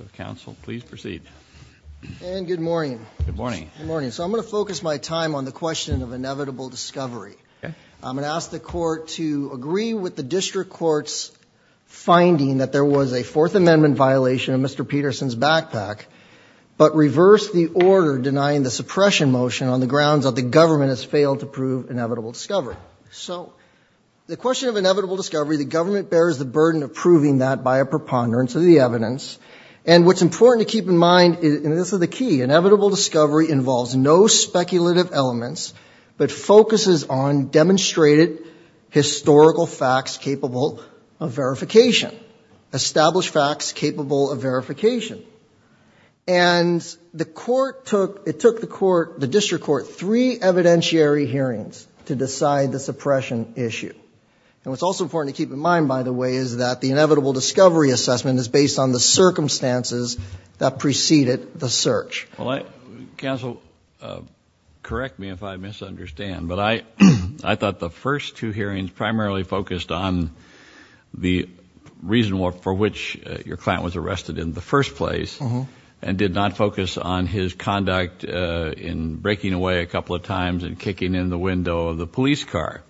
I'm going to focus my time on the question of inevitable discovery. I'm going to ask the court to agree with the district court's finding that there was a Fourth Amendment violation of Mr. Peterson's backpack, but reverse the order denying the suppression motion on the grounds that the government has failed to prove inevitable discovery. So the question of inevitable discovery, the government bears the burden of proving that by a preponderance of the evidence. And what's important to keep in mind, and this is the key, inevitable discovery involves no speculative elements, but focuses on demonstrated historical facts capable of verification. Established facts capable of verification. And the court took, it took the court, the district court, three evidentiary hearings to decide the suppression issue. And what's also important to keep in mind, by the way, is that the inevitable discovery assessment is based on the circumstances that preceded the search. Well, counsel, correct me if I misunderstand, but I thought the first two hearings primarily focused on the reason for which your client was arrested in the first place and did not focus on his conduct in breaking away a couple of times and kicking in the window of the police car.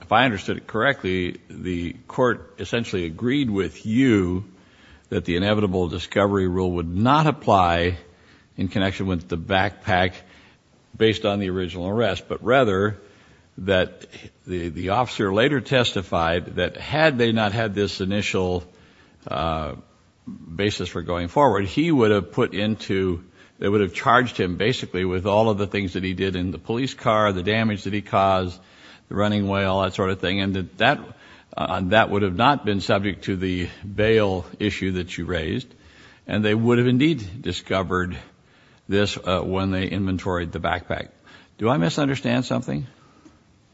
If I understood it correctly, the court essentially agreed with you that the inevitable discovery rule would not apply in connection with the backpack based on the original arrest, but rather that the officer later testified that had they not had this initial basis for going forward, he would have put into, they would have charged him basically with all of the things that he did in the police car, the damage that he caused. The running way, all that sort of thing. And that would have not been subject to the bail issue that you raised. And they would have indeed discovered this when they inventoried the backpack. Do I misunderstand something?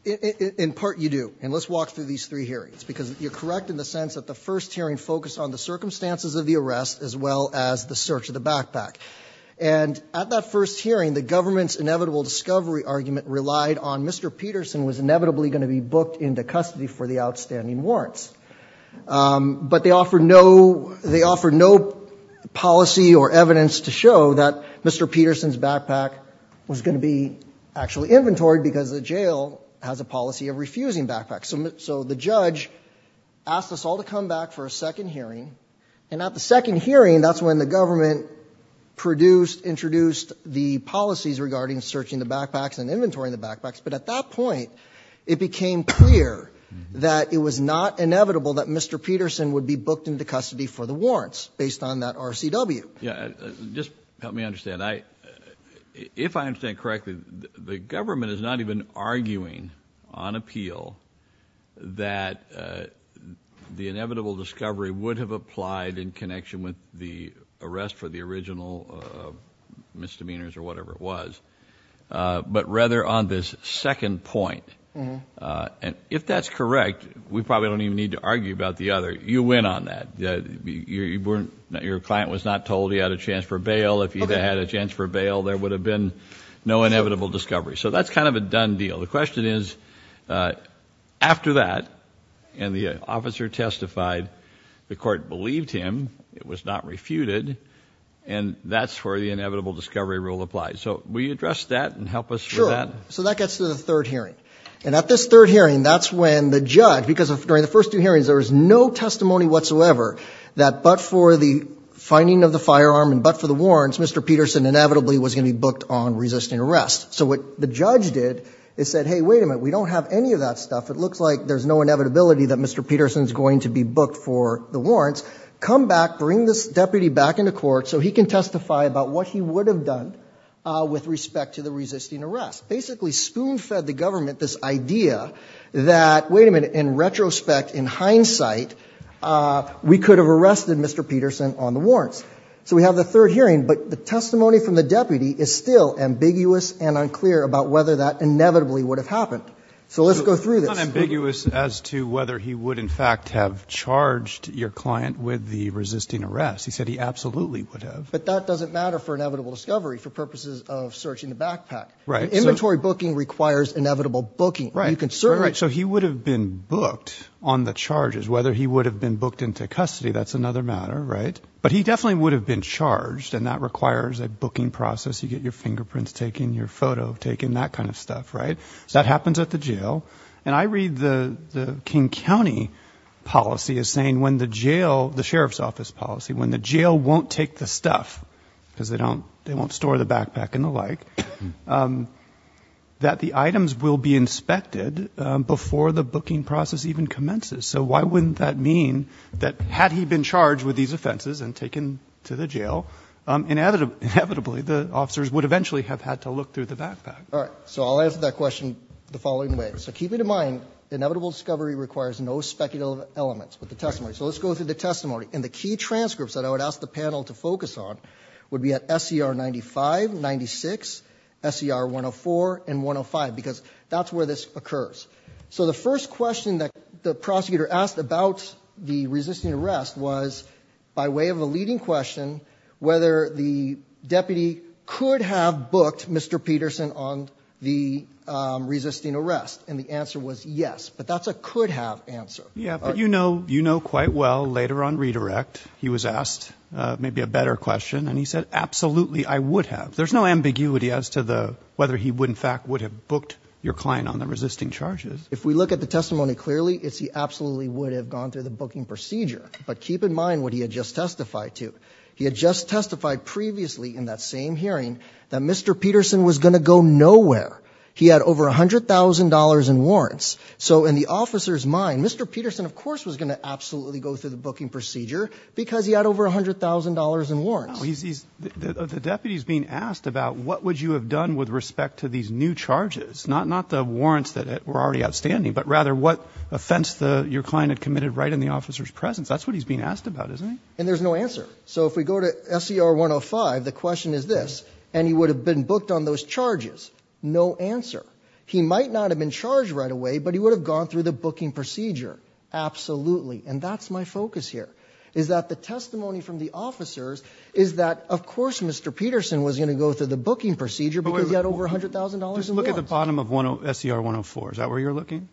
In part, you do. And let's walk through these three hearings, because you're correct in the sense that the first hearing focused on the circumstances of the arrest as well as the search of the backpack. And at that first hearing, the government's inevitable discovery argument relied on Mr. Peterson was inevitably going to be booked into custody for the outstanding warrants. But they offered no policy or evidence to show that Mr. Peterson's backpack was going to be actually inventoried because the jail has a policy of refusing backpacks. So the judge asked us all to come back for a second hearing. And at the second hearing, that's when the government produced, introduced the policies regarding searching the backpacks and inventorying the backpacks. But at that point, it became clear that it was not inevitable that Mr. Peterson would be booked into custody for the warrants based on that RCW. Just help me understand. If I understand correctly, the government is not even arguing on appeal that the inevitable discovery would have applied in connection with the arrest for the original misdemeanors or whatever it was, but rather on this second point. And if that's correct, we probably don't even need to argue about the other. You win on that. Your client was not told he had a chance for bail. If he had a chance for bail, there would have been no inevitable discovery. So that's kind of a done deal. The question is, after that, and the officer testified, the court believed him, it was not refuted, and that's where the inevitable discovery rule applies. So will you address that and help us with that? So that gets to the third hearing. And at this third hearing, that's when the judge, because during the first two hearings, there was no testimony whatsoever that but for the finding of the firearm and but for the warrants, Mr. Peterson inevitably was going to be booked on resisting arrest. So what the judge did is said, hey, wait a minute, we don't have any of that stuff. It looks like there's no inevitability that Mr. Peterson is going to be booked for the warrants. Come back, bring this deputy back into court so he can testify about what he would have done with respect to the resisting arrest. Basically spoon-fed the government this idea that, wait a minute, in retrospect, in hindsight, we could have arrested Mr. Peterson on the warrants. So we have the third hearing, but the testimony from the deputy is still ambiguous and unclear about whether that inevitably would have happened. So let's go through this. It's not ambiguous as to whether he would, in fact, have charged your client with the resisting arrest. He said he absolutely would have. But that doesn't matter for inevitable discovery for purposes of searching the backpack. Right. Inventory booking requires inevitable booking. Right. So he would have been booked on the charges, whether he would have been booked into custody. That's another matter. Right. But he definitely would have been charged. And that requires a booking process. You get your fingerprints taken, your photo taken, that kind of stuff. Right. That happens at the jail. And I read the King County policy as saying when the jail, the sheriff's office policy, when the jail won't take the stuff because they don't they won't store the backpack and the like, that the items will be inspected before the booking process even commences. So why wouldn't that mean that had he been charged with these offenses and taken to the jail? Inevitably, the officers would eventually have had to look through the backpack. All right. So I'll answer that question the following way. So keep it in mind, inevitable discovery requires no speculative elements with the testimony. So let's go through the testimony. And the key transcripts that I would ask the panel to focus on would be at SCR 95, 96, SCR 104, and 105, because that's where this occurs. So the first question that the prosecutor asked about the resisting arrest was by way of a leading question, whether the deputy could have booked Mr. Peterson on the resisting arrest. And the answer was yes. But that's a could have answer. Yeah. But, you know, you know quite well later on redirect, he was asked maybe a better question. And he said, absolutely, I would have. There's no ambiguity as to the whether he would in fact would have booked your client on the resisting charges. If we look at the testimony clearly, it's he absolutely would have gone through the booking procedure. But keep in mind what he had just testified to. He had just testified previously in that same hearing that Mr. Peterson was going to go nowhere. He had over $100,000 in warrants. So in the officer's mind, Mr. Peterson, of course, was going to absolutely go through the booking procedure because he had over $100,000 in warrants. The deputy is being asked about what would you have done with respect to these new charges, not the warrants that were already outstanding, but rather what offense your client had committed right in the officer's presence. That's what he's being asked about, isn't he? And there's no answer. So if we go to SCR 105, the question is this. And he would have been booked on those charges. No answer. He might not have been charged right away, but he would have gone through the booking procedure. Absolutely. And that's my focus here, is that the testimony from the officers is that, of course, Mr. Peterson was going to go through the booking procedure because he had over $100,000 in warrants. Just look at the bottom of SCR 104. Is that where you're looking?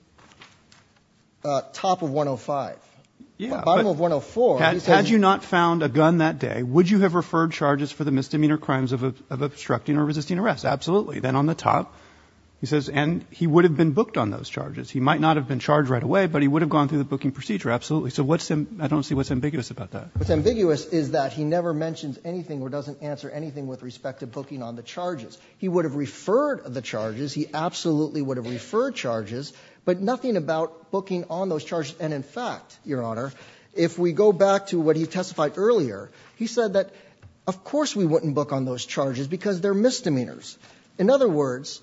Top of 105. Bottom of 104. Had you not found a gun that day, would you have referred charges for the misdemeanor crimes of obstructing or resisting arrest? Absolutely. Then on the top, he says, and he would have been booked on those charges. He might not have been charged right away, but he would have gone through the booking procedure. Absolutely. So I don't see what's ambiguous about that. What's ambiguous is that he never mentions anything or doesn't answer anything with respect to booking on the charges. He would have referred the charges. He absolutely would have referred charges, but nothing about booking on those charges. And, in fact, Your Honor, if we go back to what he testified earlier, he said that, of course, we wouldn't book on those charges because they're misdemeanors. In other words,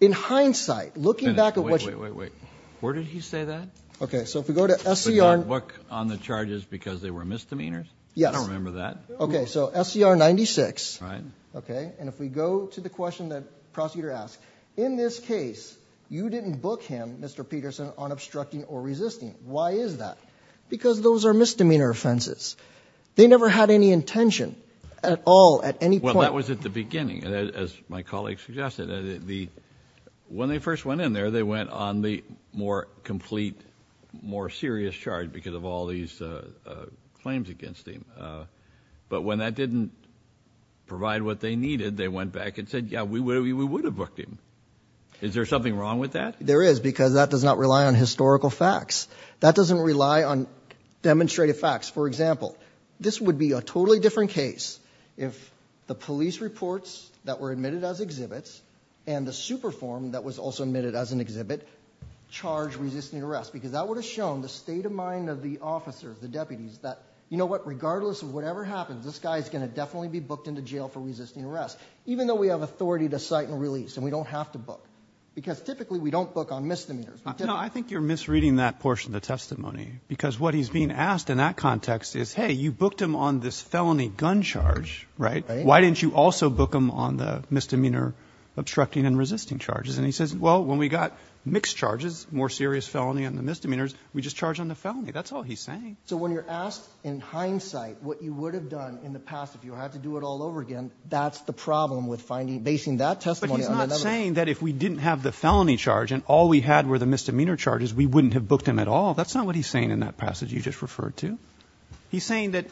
in hindsight, looking back at what you ---- Wait, wait, wait, wait. Where did he say that? Okay. So if we go to SCR ---- But he didn't book on the charges because they were misdemeanors? Yes. I don't remember that. Okay. So SCR 96. Right. Okay. And if we go to the question that the prosecutor asked, in this case, you didn't book him, Mr. Peterson, on obstructing or resisting. Why is that? Because those are misdemeanor offenses. They never had any intention at all at any point. Well, that was at the beginning, as my colleague suggested. When they first went in there, they went on the more complete, more serious charge because of all these claims against him. But when that didn't provide what they needed, they went back and said, yeah, we would have booked him. Is there something wrong with that? There is because that does not rely on historical facts. That doesn't rely on demonstrative facts. For example, this would be a totally different case if the police reports that were admitted as exhibits and the super form that was also admitted as an exhibit charged resisting arrest because that would have shown the state of mind of the officers, the deputies, that, you know what, regardless of whatever happens, this guy is going to definitely be booked into jail for resisting arrest, even though we have authority to cite and release and we don't have to book because typically we don't book on misdemeanors. I think you're misreading that portion of the testimony because what he's being asked in that context is, hey, you booked him on this felony gun charge, right? Why didn't you also book him on the misdemeanor obstructing and resisting charges? And he says, well, when we got mixed charges, more serious felony on the misdemeanors, we just charge on the felony. That's all he's saying. So when you're asked in hindsight what you would have done in the past if you had to do it all over again, that's the problem with finding, basing that testimony on another. But he's not saying that if we didn't have the felony charge and all we had were the misdemeanor charges, we wouldn't have booked him at all. That's not what he's saying in that passage you just referred to. He's saying that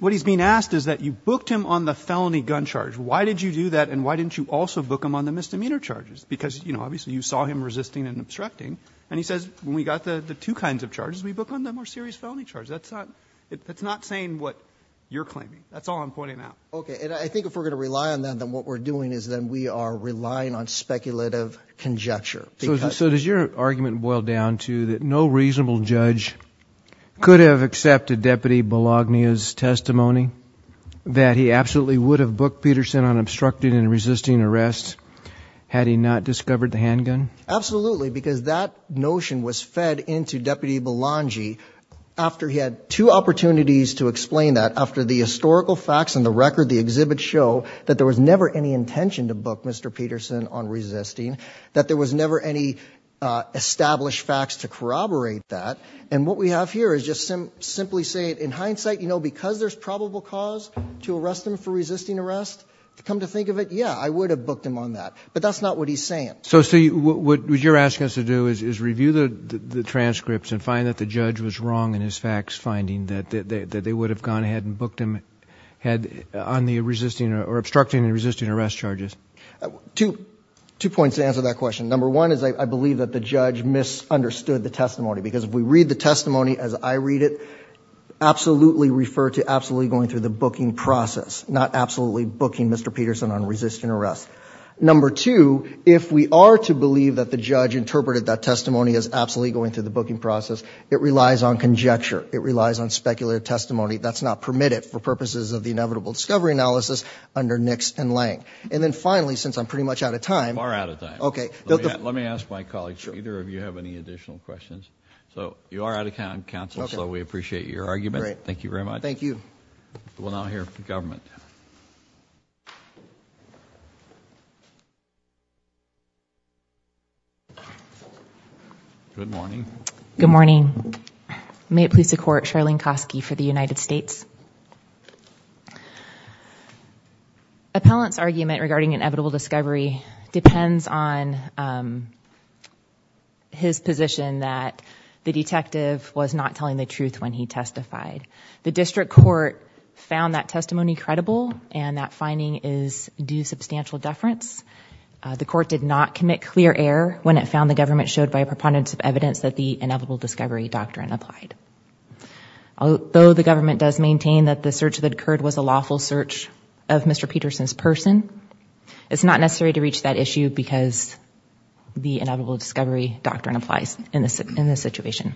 what he's being asked is that you booked him on the felony gun charge. Why did you do that and why didn't you also book him on the misdemeanor charges? Because, you know, obviously you saw him resisting and obstructing. And he says when we got the two kinds of charges, we booked on the more serious felony charge. That's not saying what you're claiming. That's all I'm pointing out. Okay, and I think if we're going to rely on that, then what we're doing is then we are relying on speculative conjecture. So does your argument boil down to that no reasonable judge could have accepted Deputy Belogna's testimony, that he absolutely would have booked Peterson on obstructing and resisting arrest had he not discovered the handgun? Absolutely, because that notion was fed into Deputy Belongi after he had two opportunities to explain that. After the historical facts and the record of the exhibit show that there was never any intention to book Mr. Peterson on resisting, that there was never any established facts to corroborate that. And what we have here is just simply saying in hindsight, you know, because there's probable cause to arrest him for resisting arrest, come to think of it, yeah, I would have booked him on that. But that's not what he's saying. So what you're asking us to do is review the transcripts and find that the judge was wrong in his facts, finding that they would have gone ahead and booked him on the obstructing and resisting arrest charges. Two points to answer that question. Number one is I believe that the judge misunderstood the testimony. Because if we read the testimony as I read it, absolutely refer to absolutely going through the booking process, not absolutely booking Mr. Peterson on resisting arrest. Number two, if we are to believe that the judge interpreted that testimony as absolutely going through the booking process, it relies on conjecture. It relies on speculative testimony. That's not permitted for purposes of the inevitable discovery analysis under Nix and Lang. And then finally, since I'm pretty much out of time. Far out of time. Okay. Let me ask my colleague, Peter, if you have any additional questions. So you are out of time, counsel, so we appreciate your argument. Thank you very much. Thank you. We'll now hear from the government. Good morning. Good morning. May it please the court, Charlene Kosky for the United States. Appellant's argument regarding inevitable discovery depends on his position that the detective was not telling the truth when he testified. The district court found that testimony credible and that finding is due substantial deference. The court did not commit clear error when it found the government showed by a preponderance of evidence that the inevitable discovery doctrine applied. Though the government does maintain that the search that occurred was a lawful search of Mr. Peterson's person, it's not necessary to reach that issue because the inevitable discovery doctrine applies in this situation.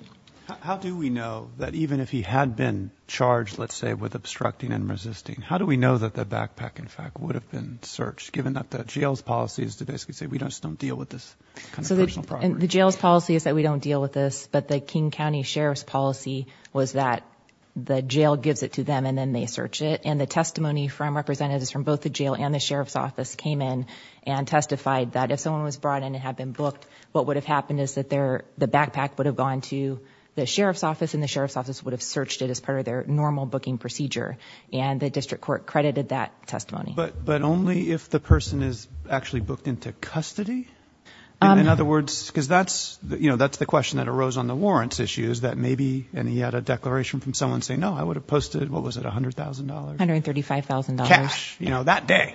How do we know that even if he had been charged, let's say, with obstructing and resisting, how do we know that the backpack, in fact, would have been searched, given that the jail's policy is to basically say we just don't deal with this kind of personal property? The jail's policy is that we don't deal with this, but the King County Sheriff's policy was that the jail gives it to them and then they search it, and the testimony from representatives from both the jail and the sheriff's office came in and testified that if someone was brought in and had been booked, what would have happened is that the backpack would have gone to the sheriff's office and the sheriff's office would have searched it as part of their normal booking procedure, and the district court credited that testimony. But only if the person is actually booked into custody? In other words, because that's the question that arose on the warrants issue is that maybe, and he had a declaration from someone saying, no, I would have posted, what was it, $100,000? $135,000. Cash. That day,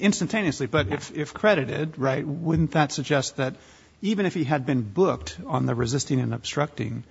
instantaneously. But if credited, wouldn't that suggest that even if he had been booked on the resisting and obstructing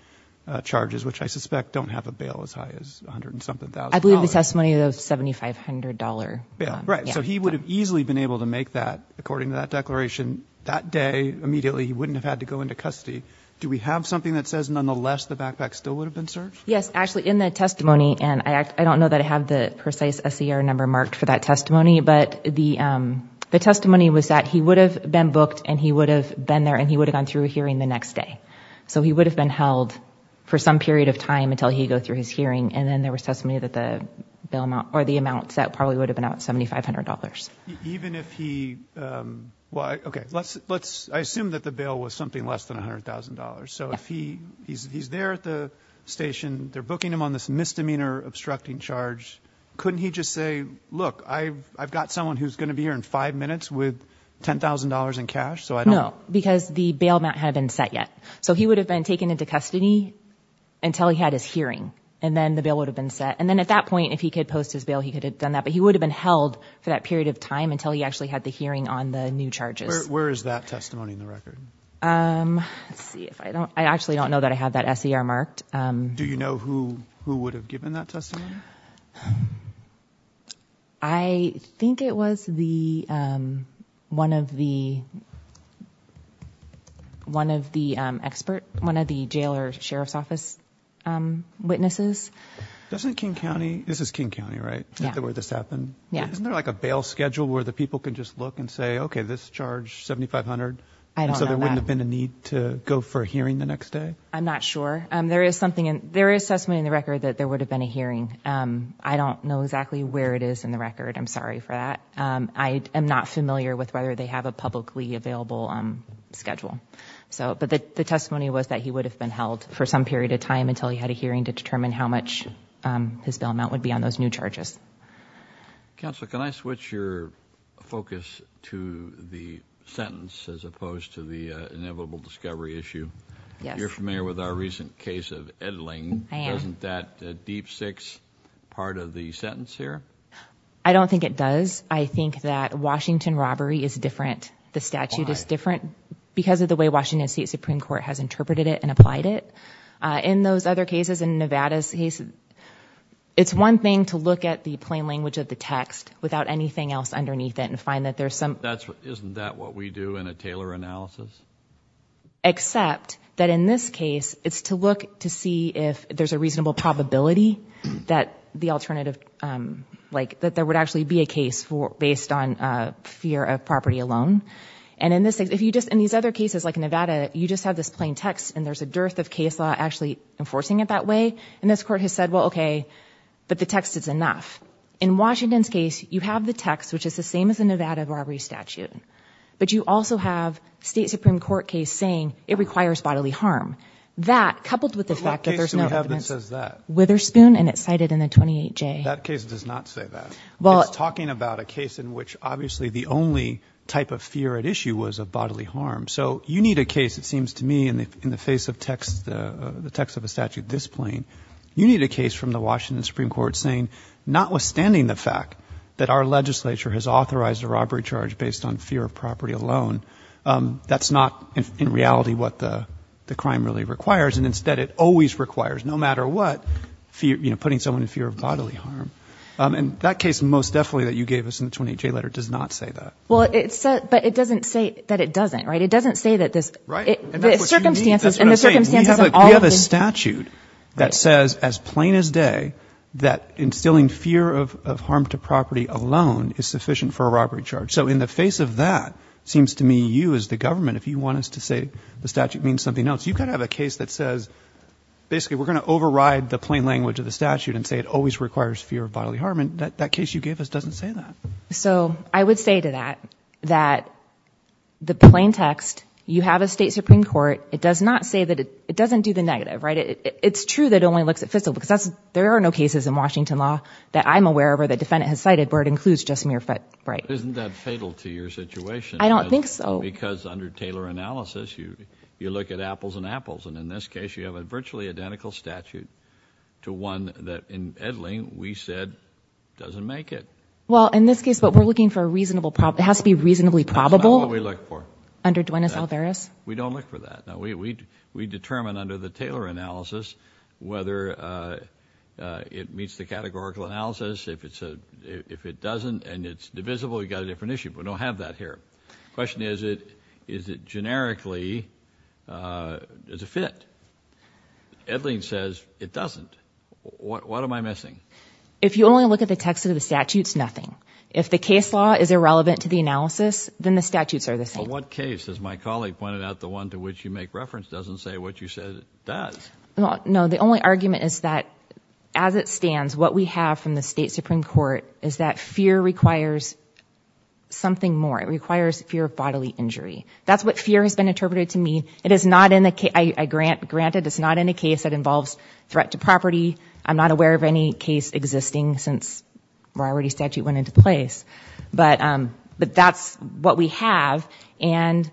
charges, which I suspect don't have a bail as high as $100,000? I believe the testimony was $7,500. Right. So he would have easily been able to make that, according to that declaration. That day, immediately, he wouldn't have had to go into custody. Do we have something that says nonetheless the backpack still would have been searched? Yes. Actually, in the testimony, and I don't know that I have the precise SER number marked for that testimony, but the testimony was that he would have been booked and he would have been there and he would have gone through a hearing the next day. So he would have been held for some period of time until he'd go through his hearing, and then there was testimony that the amount set probably would have been out at $7,500. I assume that the bail was something less than $100,000. So if he's there at the station, they're booking him on this misdemeanor obstructing charge, couldn't he just say, look, I've got someone who's going to be here in five minutes with $10,000 in cash? No, because the bail amount hadn't been set yet. So he would have been taken into custody until he had his hearing, and then the bail would have been set. And then at that point, if he could post his bail, he could have done that. But he would have been held for that period of time until he actually had the hearing on the new charges. Where is that testimony in the record? Let's see. I actually don't know that I have that SER marked. Do you know who would have given that testimony? I think it was one of the jail or sheriff's office witnesses. This is King County, right? Yeah. Isn't there like a bail schedule where the people can just look and say, OK, this charge $7,500. I don't know that. So there wouldn't have been a need to go for a hearing the next day? I'm not sure. There is testimony in the record that there would have been a hearing. I don't know exactly where it is in the record. I'm sorry for that. I am not familiar with whether they have a publicly available schedule. But the testimony was that he would have been held for some period of time until he had a hearing to determine how much his bail amount would be on those new charges. Counsel, can I switch your focus to the sentence as opposed to the inevitable discovery issue? Yes. You're familiar with our recent case of Edling. I am. Isn't that a deep six part of the sentence here? I don't think it does. I think that Washington robbery is different. Why? The statute is different because of the way Washington State Supreme Court has interpreted it and applied it. In those other cases, in Nevada's case, it's one thing to look at the plain language of the text without anything else underneath it and find that there's some… Isn't that what we do in a Taylor analysis? Except that in this case, it's to look to see if there's a reasonable probability that there would actually be a case based on fear of property alone. And in these other cases like Nevada, you just have this plain text and there's a dearth of case law actually enforcing it that way. And this court has said, well, okay, but the text is enough. In Washington's case, you have the text, which is the same as the Nevada robbery statute. But you also have State Supreme Court case saying it requires bodily harm. That, coupled with the fact that there's no evidence… What case do we have that says that? Witherspoon, and it's cited in the 28J. That case does not say that. It's talking about a case in which obviously the only type of fear at issue was of bodily harm. So you need a case, it seems to me, in the face of the text of a statute this plain. You need a case from the Washington Supreme Court saying notwithstanding the fact that our legislature has authorized a robbery charge based on fear of property alone, that's not in reality what the crime really requires. And instead it always requires, no matter what, putting someone in fear of bodily harm. And that case most definitely that you gave us in the 28J letter does not say that. But it doesn't say that it doesn't, right? It doesn't say that this… Right. And that's what you need. That's what I'm saying. We have a statute that says as plain as day that instilling fear of harm to property alone is sufficient for a robbery charge. So in the face of that, it seems to me you as the government, if you want us to say the statute means something else, you've got to have a case that says basically we're going to override the plain language of the statute and say it always requires fear of bodily harm. And that case you gave us doesn't say that. So I would say to that that the plain text, you have a State Supreme Court. It does not say that it doesn't do the negative, right? It's true that it only looks at fiscal because there are no cases in Washington law that I'm aware of or the defendant has cited where it includes just mere… But isn't that fatal to your situation? I don't think so. Because under Taylor analysis, you look at apples and apples. And in this case, you have a virtually identical statute to one that in Edling we said doesn't make it. Well, in this case, but we're looking for a reasonable… It has to be reasonably probable. That's not what we look for. Under Duenas-Alvarez? We don't look for that. We determine under the Taylor analysis whether it meets the categorical analysis. If it doesn't and it's divisible, you've got a different issue. We don't have that here. The question is, is it generically a fit? Edling says it doesn't. What am I missing? If you only look at the text of the statutes, nothing. If the case law is irrelevant to the analysis, then the statutes are the same. In what case? As my colleague pointed out, the one to which you make reference doesn't say what you said it does. No. The only argument is that as it stands, what we have from the State Supreme Court is that fear requires something more. It requires fear of bodily injury. That's what fear has been interpreted to mean. It is not in the case. I grant it. It's not in the case that involves threat to property. I'm not aware of any case existing since we're already statute went into place. But that's what we have, and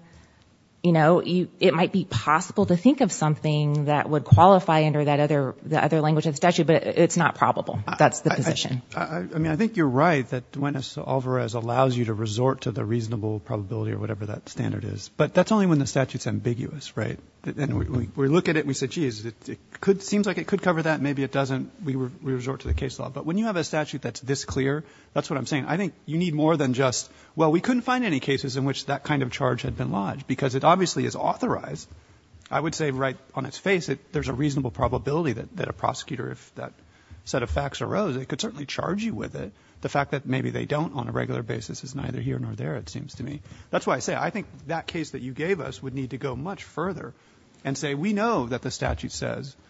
it might be possible to think of something that would qualify under the other language of the statute, but it's not probable. That's the position. I think you're right that Duenas-Alvarez allows you to resort to the reasonable probability or whatever that standard is. But that's only when the statute's ambiguous, right? We look at it and we say, geez, it seems like it could cover that. Maybe it doesn't. We resort to the case law. But when you have a statute that's this clear, that's what I'm saying. I think you need more than just, well, we couldn't find any cases in which that kind of charge had been lodged, because it obviously is authorized. I would say right on its face there's a reasonable probability that a prosecutor, if that set of facts arose, it could certainly charge you with it. The fact that maybe they don't on a regular basis is neither here nor there, it seems to me. That's why I say I think that case that you gave us would need to go much further and say we know that the statute says that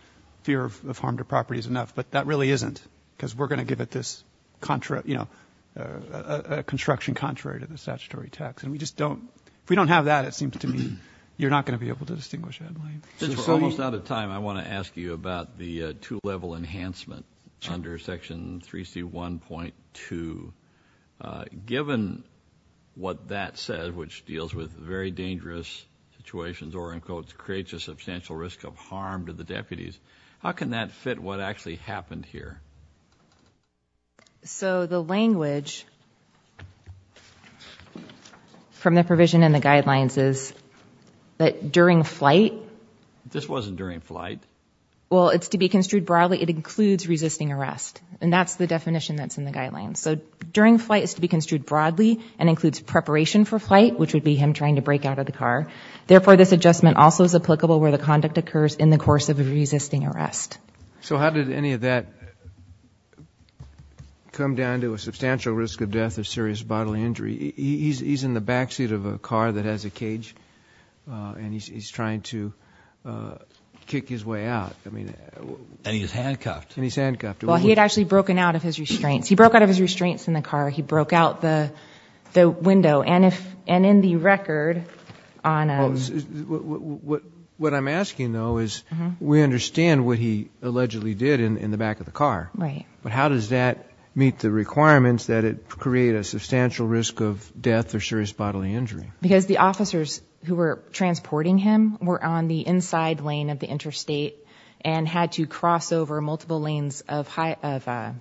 fear of harm to property is enough, but that really isn't, because we're going to give it this construction contrary to the statutory text. If we don't have that, it seems to me you're not going to be able to distinguish that. Since we're almost out of time, I want to ask you about the two-level enhancement under Section 3C1.2. Given what that says, which deals with very dangerous situations or, in quotes, creates a substantial risk of harm to the deputies, how can that fit what actually happened here? So the language from the provision in the guidelines is that during flight. This wasn't during flight. Well, it's to be construed broadly. It includes resisting arrest, and that's the definition that's in the guidelines. So during flight is to be construed broadly and includes preparation for flight, which would be him trying to break out of the car. Therefore, this adjustment also is applicable where the conduct occurs in the course of resisting arrest. So how did any of that come down to a substantial risk of death or serious bodily injury? He's in the backseat of a car that has a cage, and he's trying to kick his way out. And he's handcuffed. And he's handcuffed. Well, he had actually broken out of his restraints. He broke out of his restraints in the car. He broke out the window. And in the record on a— What I'm asking, though, is we understand what he allegedly did in the back of the car. Right. But how does that meet the requirements that it create a substantial risk of death or serious bodily injury? Because the officers who were transporting him were on the inside lane of the interstate and had to cross over multiple lanes of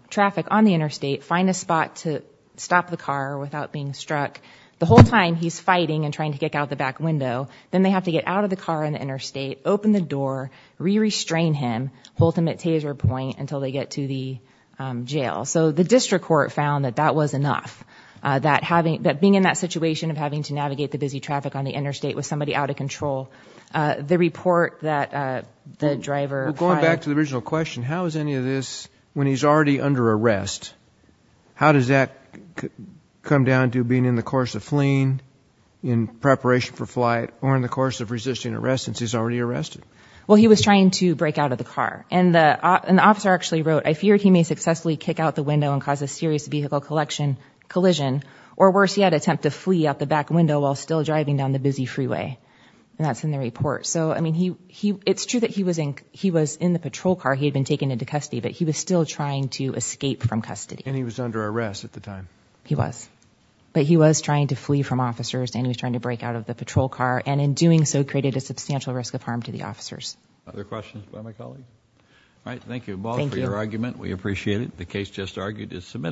traffic on the interstate, find a spot to stop the car without being struck. The whole time he's fighting and trying to kick out the back window. Then they have to get out of the car on the interstate, open the door, re-restrain him, hold him at taser point until they get to the jail. So the district court found that that was enough, that being in that situation of having to navigate the busy traffic on the interstate with somebody out of control, the report that the driver filed— Well, going back to the original question, how is any of this, when he's already under arrest, how does that come down to being in the course of fleeing in preparation for flight or in the course of resisting arrest since he's already arrested? Well, he was trying to break out of the car. And the officer actually wrote, I feared he may successfully kick out the window and cause a serious vehicle collision or worse yet, attempt to flee out the back window while still driving down the busy freeway. And that's in the report. So, I mean, it's true that he was in the patrol car. He had been taken into custody, but he was still trying to escape from custody. And he was under arrest at the time. He was. But he was trying to flee from officers and he was trying to break out of the patrol car and in doing so created a substantial risk of harm to the officers. Other questions by my colleague? All right, thank you, Paul, for your argument. We appreciate it. The case just argued is submitted.